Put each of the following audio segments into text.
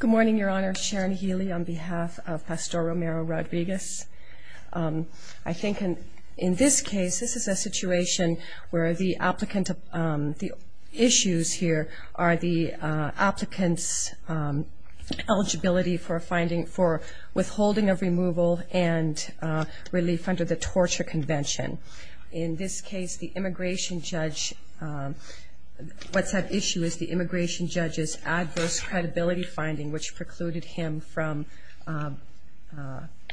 Good morning, Your Honor. Sharon Healy on behalf of Pastor Romero-Rodriguez. I think in this case, this is a situation where the issues here are the applicant's eligibility for withholding of removal and relief under the torture convention. In this case, the immigration judge's adverse credibility finding, which precluded him from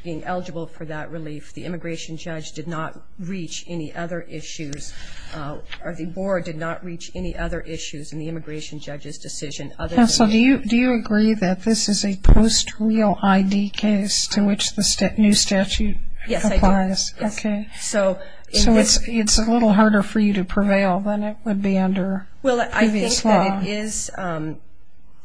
being eligible for that relief, the immigration judge did not reach any other issues, or the board did not reach any other issues in the immigration judge's decision other than... Counsel, do you agree that this is a post-real ID case to which the new statute applies? Yes, I do. Okay. So it's a little harder for you to prevail than it would be under previous law? Yes.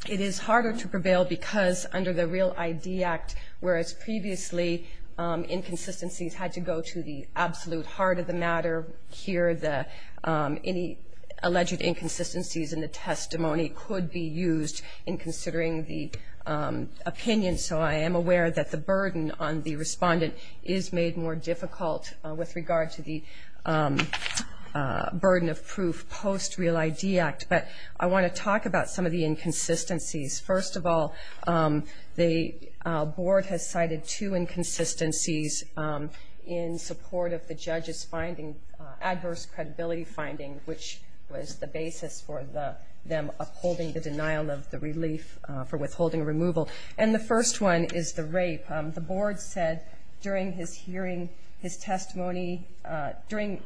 It is harder to prevail because under the Real ID Act, whereas previously inconsistencies had to go to the absolute heart of the matter, here any alleged inconsistencies in the testimony could be used in considering the opinion. So I am aware that the burden on the respondent is made more difficult with regard to the burden of proof post-Real ID Act. But I want to talk about some of the inconsistencies. First of all, the board has cited two inconsistencies in support of the judge's adverse credibility finding, which was the basis for them upholding the denial of the relief for withholding removal. And the first one is the rape. The board said during his hearing, his testimony, during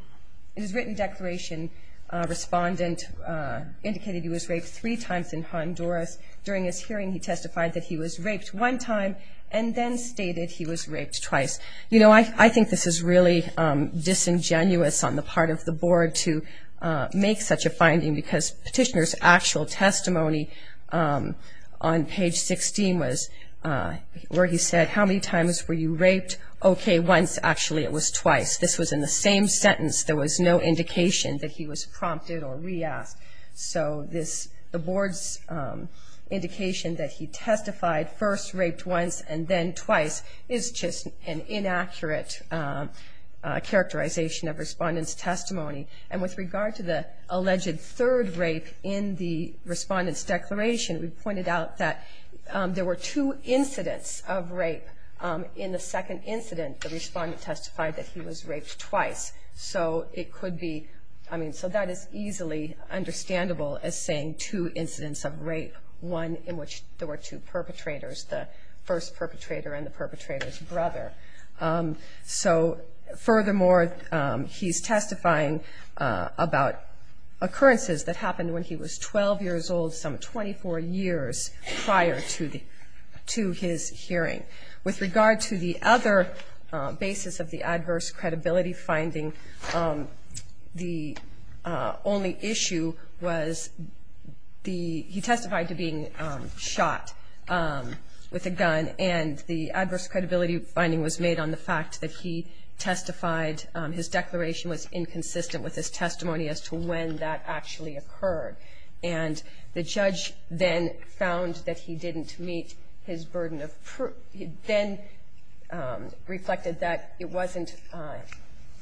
his written declaration, respondent, the judge indicated he was raped three times in Honduras. During his hearing, he testified that he was raped one time and then stated he was raped twice. You know, I think this is really disingenuous on the part of the board to make such a finding because Petitioner's actual testimony on page 16 was where he said, how many times were you raped? Okay, once. Actually, it was twice. This was in the same sentence. There was no need to ask. So the board's indication that he testified first, raped once, and then twice is just an inaccurate characterization of respondent's testimony. And with regard to the alleged third rape in the respondent's declaration, we pointed out that there were two incidents of rape. In the second incident, the respondent testified that he was raped twice. So it could be, I mean, so that is easily understandable as saying two incidents of rape, one in which there were two perpetrators, the first perpetrator and the perpetrator's brother. So furthermore, he's testifying about occurrences that happened when he was 12 years old, some 24 years prior to his hearing. With regard to the other basis of the adverse credibility finding, the only issue was he testified to being shot with a gun, and the adverse credibility finding was made on the fact that he testified, his declaration was inconsistent with his testimony as to when that actually occurred. And the judge then found that he didn't meet his burden of proof and then reflected that it wasn't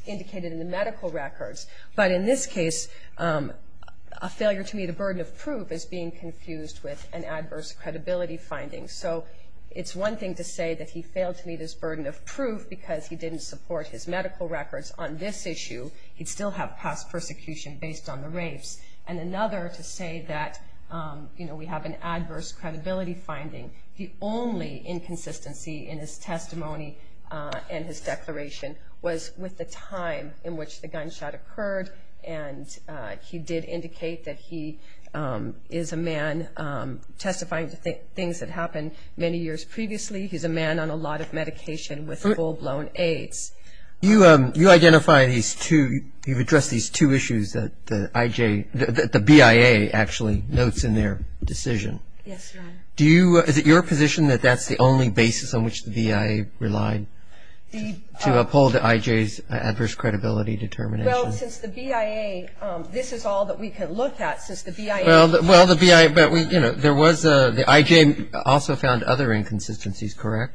indicated in the medical records. But in this case, a failure to meet a burden of proof is being confused with an adverse credibility finding. So it's one thing to say that he failed to meet his burden of proof because he didn't support his medical records on this issue. He'd still have past persecution based on the rapes. And another to say that, you know, we have an adverse credibility finding. The only inconsistency in his testimony and his declaration was with the time in which the gunshot occurred. And he did indicate that he is a man testifying to things that happened many years previously. He's a man on a lot of medication with full-blown AIDS. You identify these two, you've addressed these two issues that the IJ, the BIA actually notes in their decision. Yes, Your Honor. Do you, is it your position that that's the only basis on which the BIA relied to uphold the IJ's adverse credibility determination? Well, since the BIA, this is all that we can look at since the BIA Well, the BIA, but we, you know, there was a, the IJ also found other inconsistencies, correct?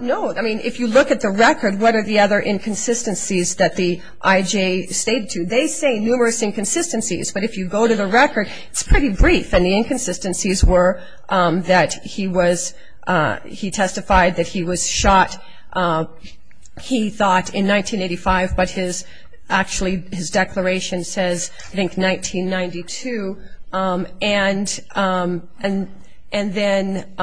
No. I mean, if you look at the record, what are the other inconsistencies that the IJ stated to? They say numerous inconsistencies, but if you go to the record, it's pretty brief. And the inconsistencies were that he was, he testified that he was shot, he thought, in 1985, but his, actually his declaration says, I think, 1992. And, and then,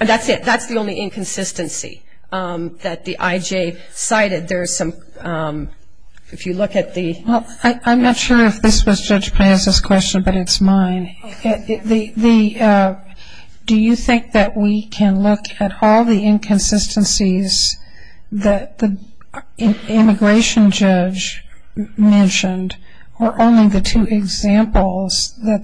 and that's the only inconsistency that the IJ cited. There's some, if you look at the Well, I'm not sure if this was Judge Piazza's question, but it's mine. Do you think that we can look at all the inconsistencies that the immigration judge mentioned, or only the one that's important?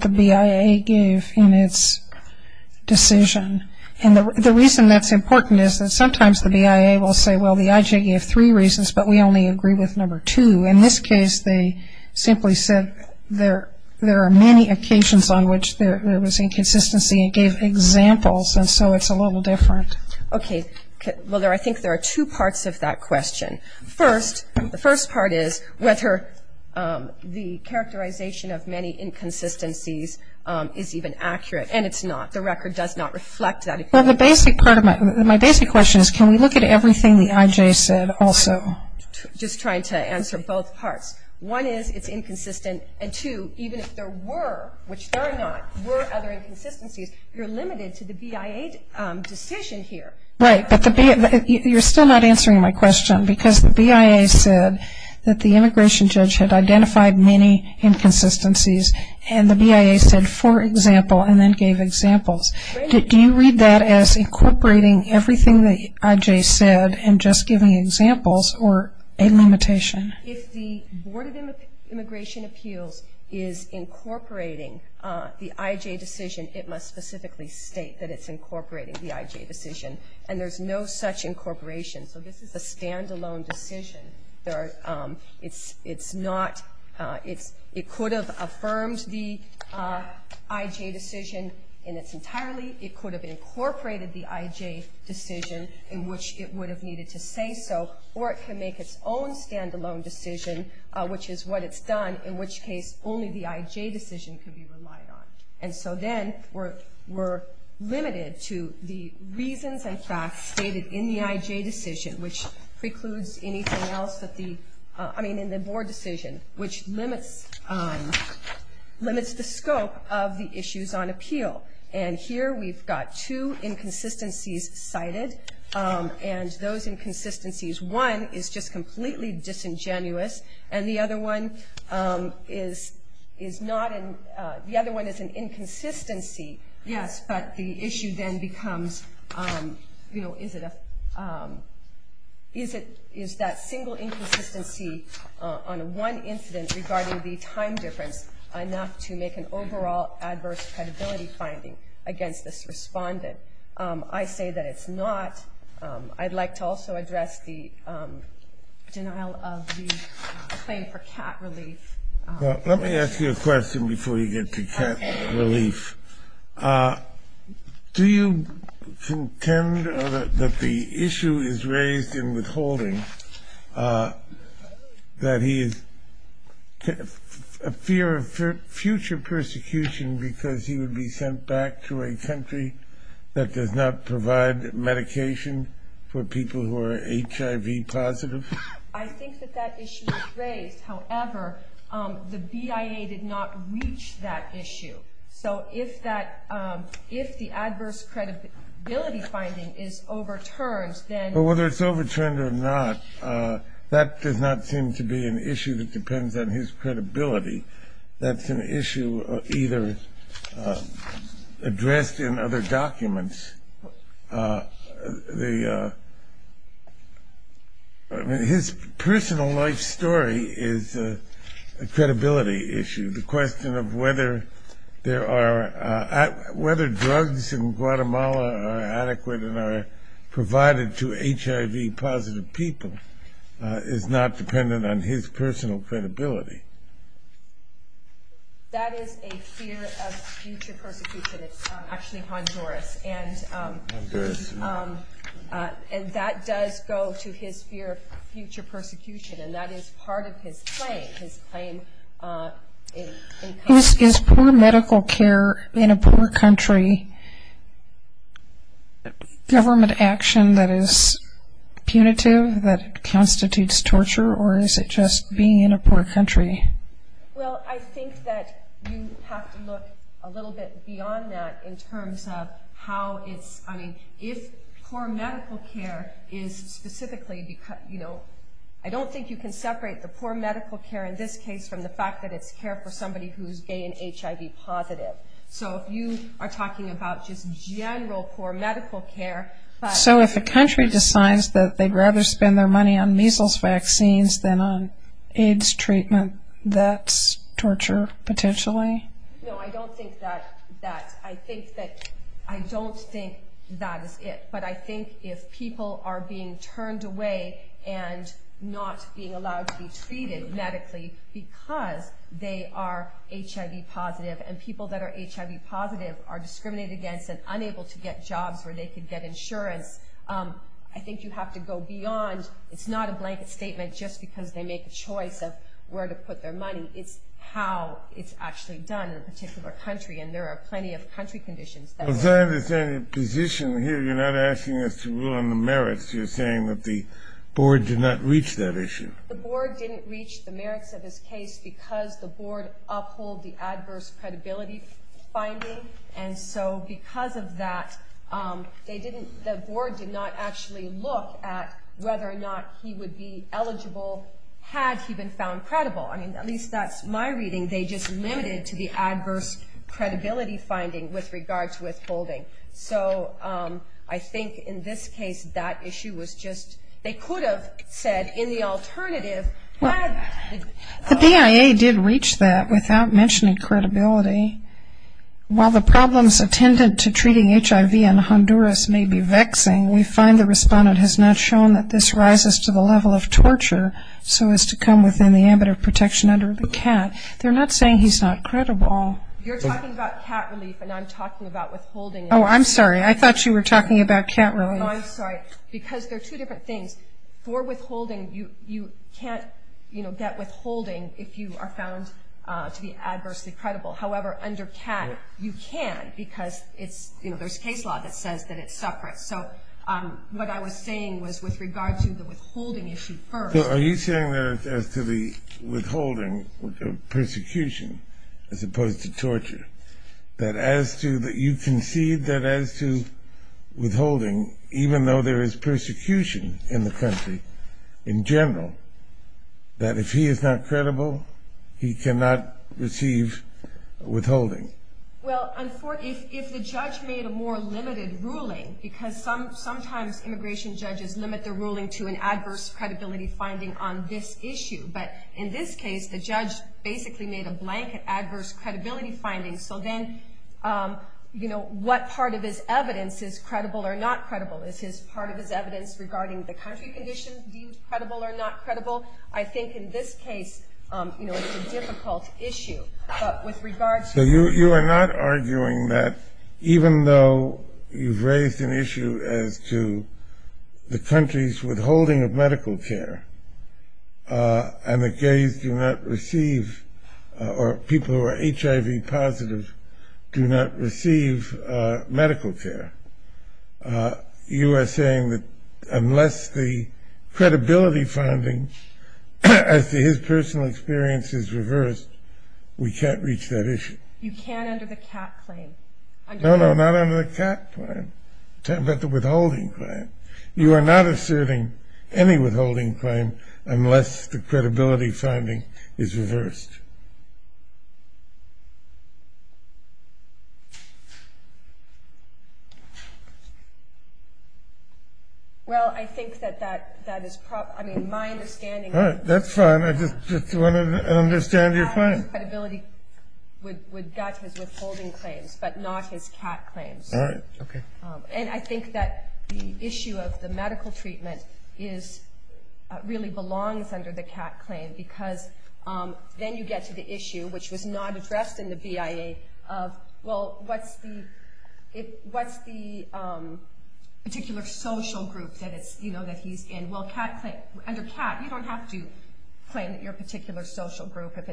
The reason that's important is that sometimes the BIA will say, well, the IJ gave three reasons, but we only agree with number two. In this case, they simply said there, there are many occasions on which there was inconsistency and gave examples, and so it's a little different. Okay. Well, there, I think there are two parts of that question. First, the first part is whether the characterization of many inconsistencies is even accurate, and it's not. The record does not reflect that. Well, the basic part of my, my basic question is, can we look at everything the IJ said also? Just trying to answer both parts. One is, it's inconsistent, and two, even if there were, which there are not, were other inconsistencies, you're limited to the BIA decision here. Right, but the BIA, you're still not answering my question, because the BIA said that the immigration judge had identified many inconsistencies, and the BIA said, for example, and then gave examples. Do you read that as incorporating everything the IJ said and just giving examples, or a limitation? If the Board of Immigration Appeals is incorporating the IJ decision, it must specifically state that it's incorporating the IJ decision, and there's no such incorporation, so this is a stand-alone decision. There are, it's, it's not, it's, it could have affirmed the IJ decision in its entirely, it could have incorporated the IJ decision, in which it would have needed to say so, or it can make its own stand-alone decision, which is what it's done, in which case only the IJ decision can be relied on. And so then, we're, we're limited to the reasons and facts stated in the IJ decision, which precludes anything else that the, I mean, in the Board decision, which limits, limits the scope of the issues on appeal. And here we've got two inconsistencies cited, and those inconsistencies, one is just completely disingenuous, and the other one is, is not an, the other one is an inconsistency, yes, but the issue then becomes, you know, is it a, is it, is that single inconsistency, is it, is that on one incident regarding the time difference enough to make an overall adverse credibility finding against this respondent? I say that it's not. I'd like to also address the denial of the claim for cat relief. Well, let me ask you a question before you get to cat relief. Do you contend that the that he is, a fear of future persecution because he would be sent back to a country that does not provide medication for people who are HIV positive? I think that that issue is raised. However, the BIA did not reach that issue. So, if that, if the adverse credibility finding is overturned, then... Well, whether it's overturned or not, that does not seem to be an issue that depends on his credibility. That's an issue either addressed in other documents. The, I mean, his personal life story is a credibility issue. The question of whether there are, whether drugs in Guatemala are adequate and are provided to HIV positive people is not dependent on his personal credibility. That is a fear of future persecution. It's actually Honduras. Honduras, yeah. And that does go to his fear of future persecution. And that is part of his claim, his claim in a poor country, government action that is punitive, that constitutes torture, or is it just being in a poor country? Well, I think that you have to look a little bit beyond that in terms of how it's, I mean, if poor medical care is specifically, you know, I don't think you can separate the poor medical care in this case from the fact that it's care for somebody who's gay and HIV positive. So if you are talking about just general poor medical care... So if a country decides that they'd rather spend their money on measles vaccines than on AIDS treatment, that's torture, potentially? No, I don't think that, that, I think that, I don't think that is it. But I think if people are being turned away and not being allowed to be treated medically because they are HIV positive, and people that are HIV positive are discriminated against and unable to get jobs where they could get insurance, I think you have to go beyond, it's not a blanket statement just because they make a choice of where to put their money, it's how it's actually done in a particular country, and there are plenty of country conditions that would... But is there any position here, you're not asking us to rule on the merits, you're saying that the board did not reach that issue? The board didn't reach the merits of his case because the board uphold the adverse credibility finding, and so because of that, they didn't, the board did not actually look at whether or not he would be eligible had he been found credible. I mean, at least that's my reading, they just limited to the adverse credibility finding with regards to withholding. So I think in this case, that issue was just, they could have said in the alternative, had... The BIA did reach that without mentioning credibility. While the problems attendant to treating HIV in Honduras may be vexing, we find the respondent has not shown that this rises to the level of torture so as to come within the ambit of protection under the CAT. They're not saying he's not credible. You're talking about CAT relief and I'm talking about withholding. Oh, I'm sorry, I thought you were talking about CAT relief. No, I'm sorry, because they're two different things. For withholding, you can't get withholding if you are found to be adversely credible. However, under CAT, you can because it's, you know, there's case law that says that it's separate. So what I was saying was with regard to the withholding issue first... So are you saying that as to the withholding, the persecution as opposed to torture, that you concede that as to withholding, even though there is persecution in the country in general, that if he is not credible, he cannot receive withholding? Well, if the judge made a more limited ruling, because sometimes immigration judges limit the ruling to an adverse credibility finding on this issue, but in this case, the judge basically made a blanket adverse credibility finding. So then, you know, what part of his evidence is credible or not credible? Is his part of his evidence regarding the country condition viewed credible or not credible? I think in this case, you know, it's a difficult issue. So you are not arguing that even though you've raised an issue as to the country's withholding of medical care, and the gays do not receive, or people who are HIV positive do not receive medical care, you are saying that unless the credibility finding as to his personal experience is reversed, we can't reach that issue? You can under the C.A.T. claim. No, no, not under the C.A.T. claim. I'm talking about the withholding claim. You are not asserting any withholding claim unless the credibility finding is reversed. Well, I think that that is probably, I mean, my understanding... All right, that's fine. I just want to understand your claim. That his credibility would match his withholding claims, but not his C.A.T. claims. All right, okay. And I think that the issue of the medical treatment really belongs under the C.A.T. claim, because then you get to the issue, which was not addressed in the BIA, of, well, what's the particular social group that he's in? Well, under C.A.T., you don't have to claim that you're a particular social group. If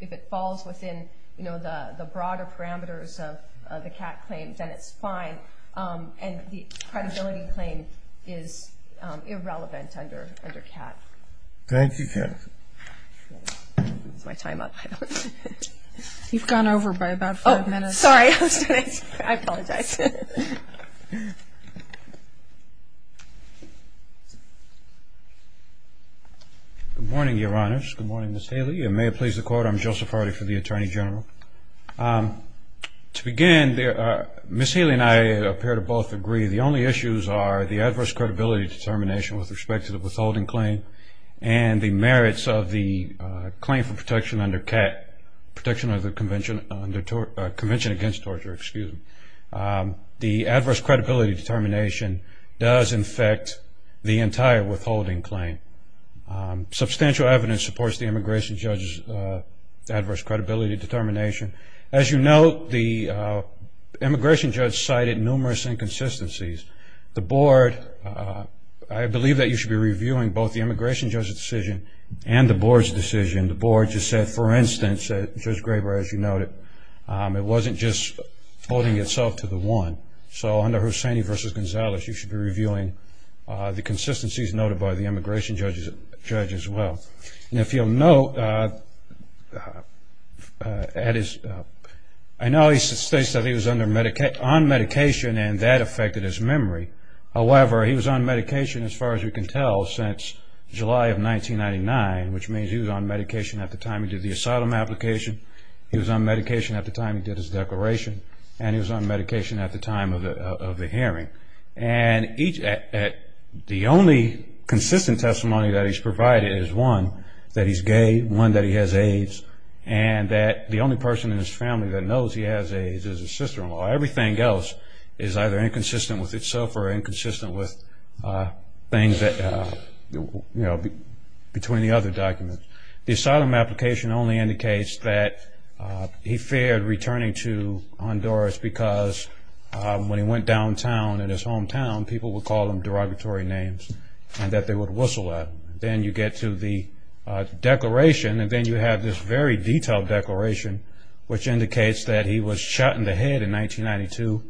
it falls within the broader parameters of the C.A.T. claim, then it's fine. And the credibility claim is irrelevant under C.A.T. Thank you, Katherine. That's my time up. You've gone over by about five minutes. Oh, sorry. I apologize. Good morning, Your Honors. Good morning, Ms. Haley. May it please the Court, I'm Joseph Hardy for the Attorney General. To begin, Ms. Haley and I appear to both agree, the only issues are the adverse credibility determination with respect to the withholding claim and the merits of the claim for protection under C.A.T., protection under the Convention Against Torture, excuse me. The adverse credibility determination does infect the entire withholding claim. Substantial evidence supports the immigration judge's adverse credibility determination. As you note, the immigration judge cited numerous inconsistencies. The Board, I believe that you should be reviewing both the immigration judge's decision and the Board's decision. The Board just said, for instance, Judge Graber, as you noted, it wasn't just holding itself to the one. So under Hussaini v. Gonzalez, you should be reviewing the consistencies noted by the immigration judge as well. And if you'll note, I know he states that he was on medication and that affected his memory. However, he was on medication, as far as we can tell, since July of 1999, which means he was on medication at the time he did the asylum application, he was on medication at the time he did his declaration, and he was on medication at the time of the hearing. And the only consistent testimony that he's provided is one that he's gay, one that he has AIDS, and that the only person in his family that knows he has AIDS is his sister-in-law. Everything else is either inconsistent with itself or inconsistent with things that, you know, between the other documents. The asylum application only indicates that he feared returning to Honduras because when he went downtown in his hometown, people would call him derogatory names and that they would whistle at him. Then you get to the declaration, and then you have this very detailed declaration, which indicates that he was shot in the head in 1992,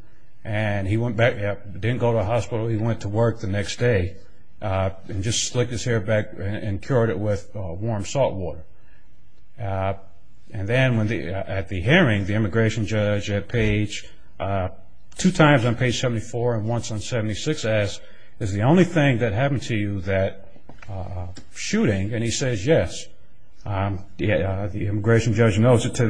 and he went back, didn't go to the hospital, he went to work the next day, and just slicked his hair back and cured it with warm salt water. And then at the hearing, the immigration judge at page, two times on page 74 and once on 76 asks, is the only thing that happened to you that shooting? And he says yes. The immigration judge notes it to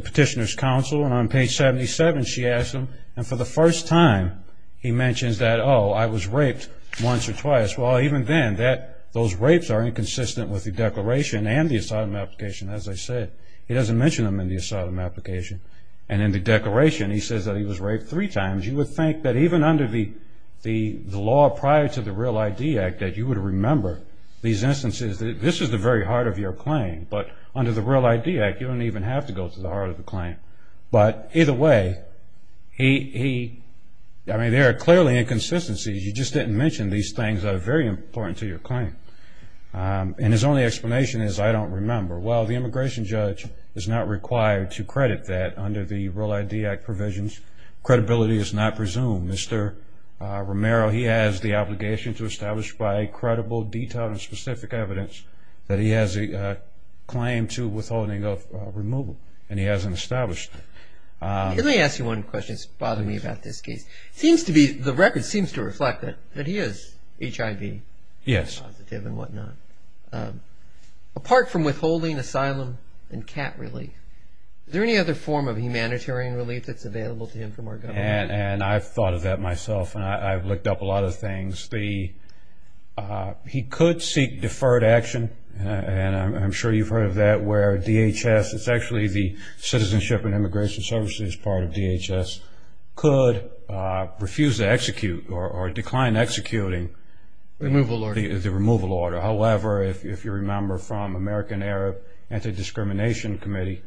Petitioner's Counsel, and on page 77 she asks him, and for the first time he mentions that, oh, I was raped once or twice. Well, even then, those rapes are inconsistent with the declaration and the asylum application, as I said. He doesn't mention them in the asylum application. And in the declaration, he says that he was raped three times. You would think that even under the law prior to the REAL ID Act that you would remember these instances. This is the very heart of your claim, but under the REAL ID Act, you don't even have to go to the heart of the claim. But either way, there are clearly inconsistencies. You just didn't mention these things that are very important to your claim. And his only explanation is, I don't remember. Well, the immigration judge is not required to credit that under the REAL ID Act provisions. Credibility is not presumed. I don't have specific evidence that he has a claim to withholding of removal. And he hasn't established it. Let me ask you one question that's bothered me about this case. The record seems to reflect that he is HIV positive and whatnot. Apart from withholding asylum and cat relief, is there any other form of humanitarian relief that's available to him from our government? And I've thought of that myself, and I've looked up a lot of things. He could seek deferred action, and I'm sure you've heard of that, where DHS, it's actually the Citizenship and Immigration Services part of DHS, could refuse to execute or decline executing the removal order. However, if you remember from American Arab Anti-Discrimination Committee,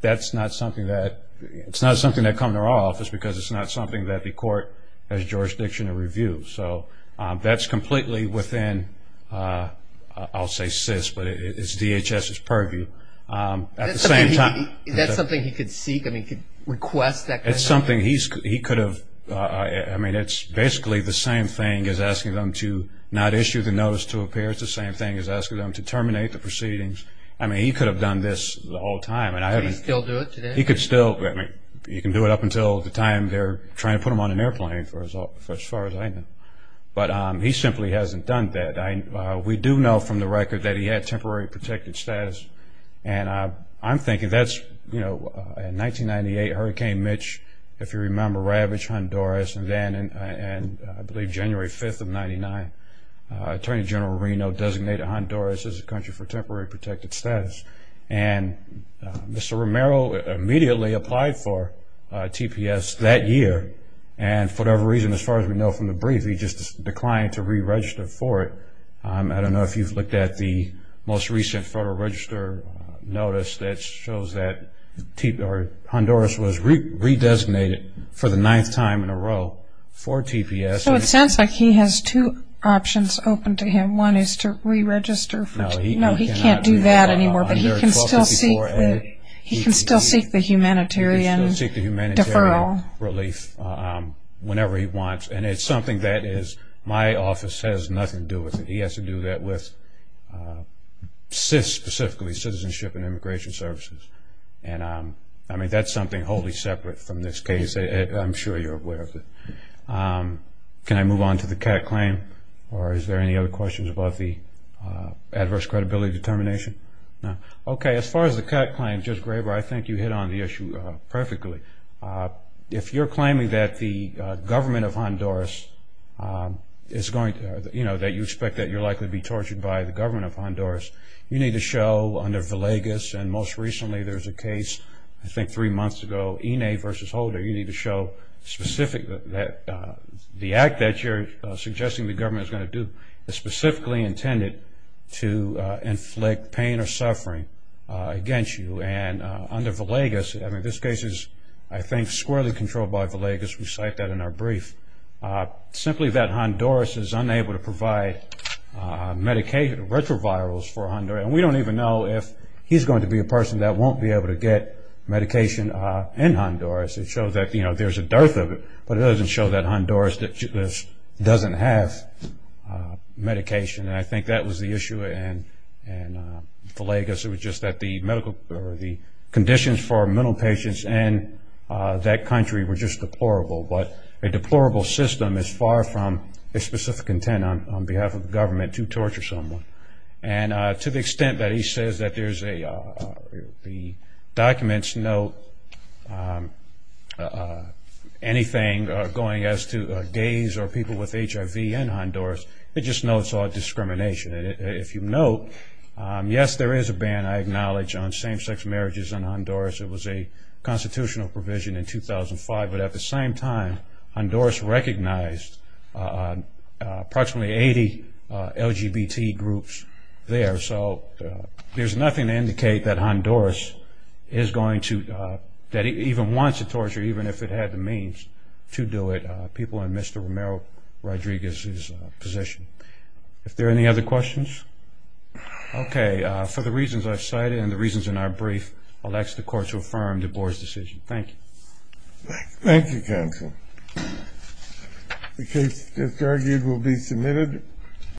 that's not something that comes to our office because it's not something that the court has jurisdiction to review. So that's completely within, I'll say, CIS, but it's DHS's purview. Is that something he could seek, I mean, he could request that kind of thing? It's something he could have... I mean, it's basically the same thing as asking them to not issue the notice to appear. It's the same thing as asking them to terminate the proceedings. I mean, he could have done this the whole time. Could he still do it today? He could still, I mean, he can do it up until the time they're trying to put him on an airplane, as far as I know. But he simply hasn't done that. We do know from the record that he had temporary protected status. And I'm thinking that's, you know, in 1998, Hurricane Mitch, if you remember, ravaged Honduras. And then, I believe January 5th of 99, Attorney General Reno designated Honduras as a country for temporary protected status. And Mr. Romero immediately applied for TPS that year. And for whatever reason, as far as we know from the brief, he just declined to re-register for it. I don't know if you've looked at the most recent Federal Register notice that shows that Honduras was re-designated for the ninth time in a row for TPS. So it sounds like he has two options open to him. One is to re-register for TPS. No, he can't do that anymore. But he can still seek the humanitarian deferral whenever he wants. And it's something that is, my office has nothing to do with it. He has to do that with, specifically, Citizenship and Immigration Services. And I mean, that's something wholly separate from this case. I'm sure you're aware of it. Can I move on to the CAC claim? Or is there any other questions about the adverse credibility determination? Okay, as far as the CAC claim, Judge Graber, I think you hit on the issue perfectly. If you're claiming that the government of Honduras is going to, you know, that you expect that you're likely to be tortured by the government of Honduras, you need to show under Villegas, and most recently there was a case, I think three months ago, Ine versus Holder, you need to show specific that the act that you're suggesting the government is going to do is specifically intended to inflict pain or suffering against you. And under Villegas, I mean, this case is, I think, squarely controlled by Villegas. We cite that in our brief. Simply that Honduras is unable to provide medication, retrovirals for Honduras. And we don't even know if he's going to be a person that won't be able to get medication in Honduras. It shows that, you know, there's a dearth of it, but it doesn't show that Honduras doesn't have medication. And I think that was the issue in Villegas. It was just that the medical, or the conditions for mental patients in that country were just deplorable. But a deplorable system is far from a specific intent on behalf of the government to torture someone. And to the extent that he says that there's a, the documents note anything going as to gays or people with HIV in Honduras, it just notes all discrimination. If you note, yes, there is a ban, I acknowledge, on same-sex marriages in Honduras. It was a constitutional provision in 2005. But at the same time, Honduras recognized approximately 80 LGBT groups there. So there's nothing to indicate that Honduras is going to, that it even wants to torture, even if it had the means to do it, people in Mr. Romero Rodriguez's position. If there are any other questions? Okay. For the reasons I've cited and the reasons in our brief, I'll ask the court to affirm the board's decision. Thank you. Thank you, counsel. The case that's argued will be submitted.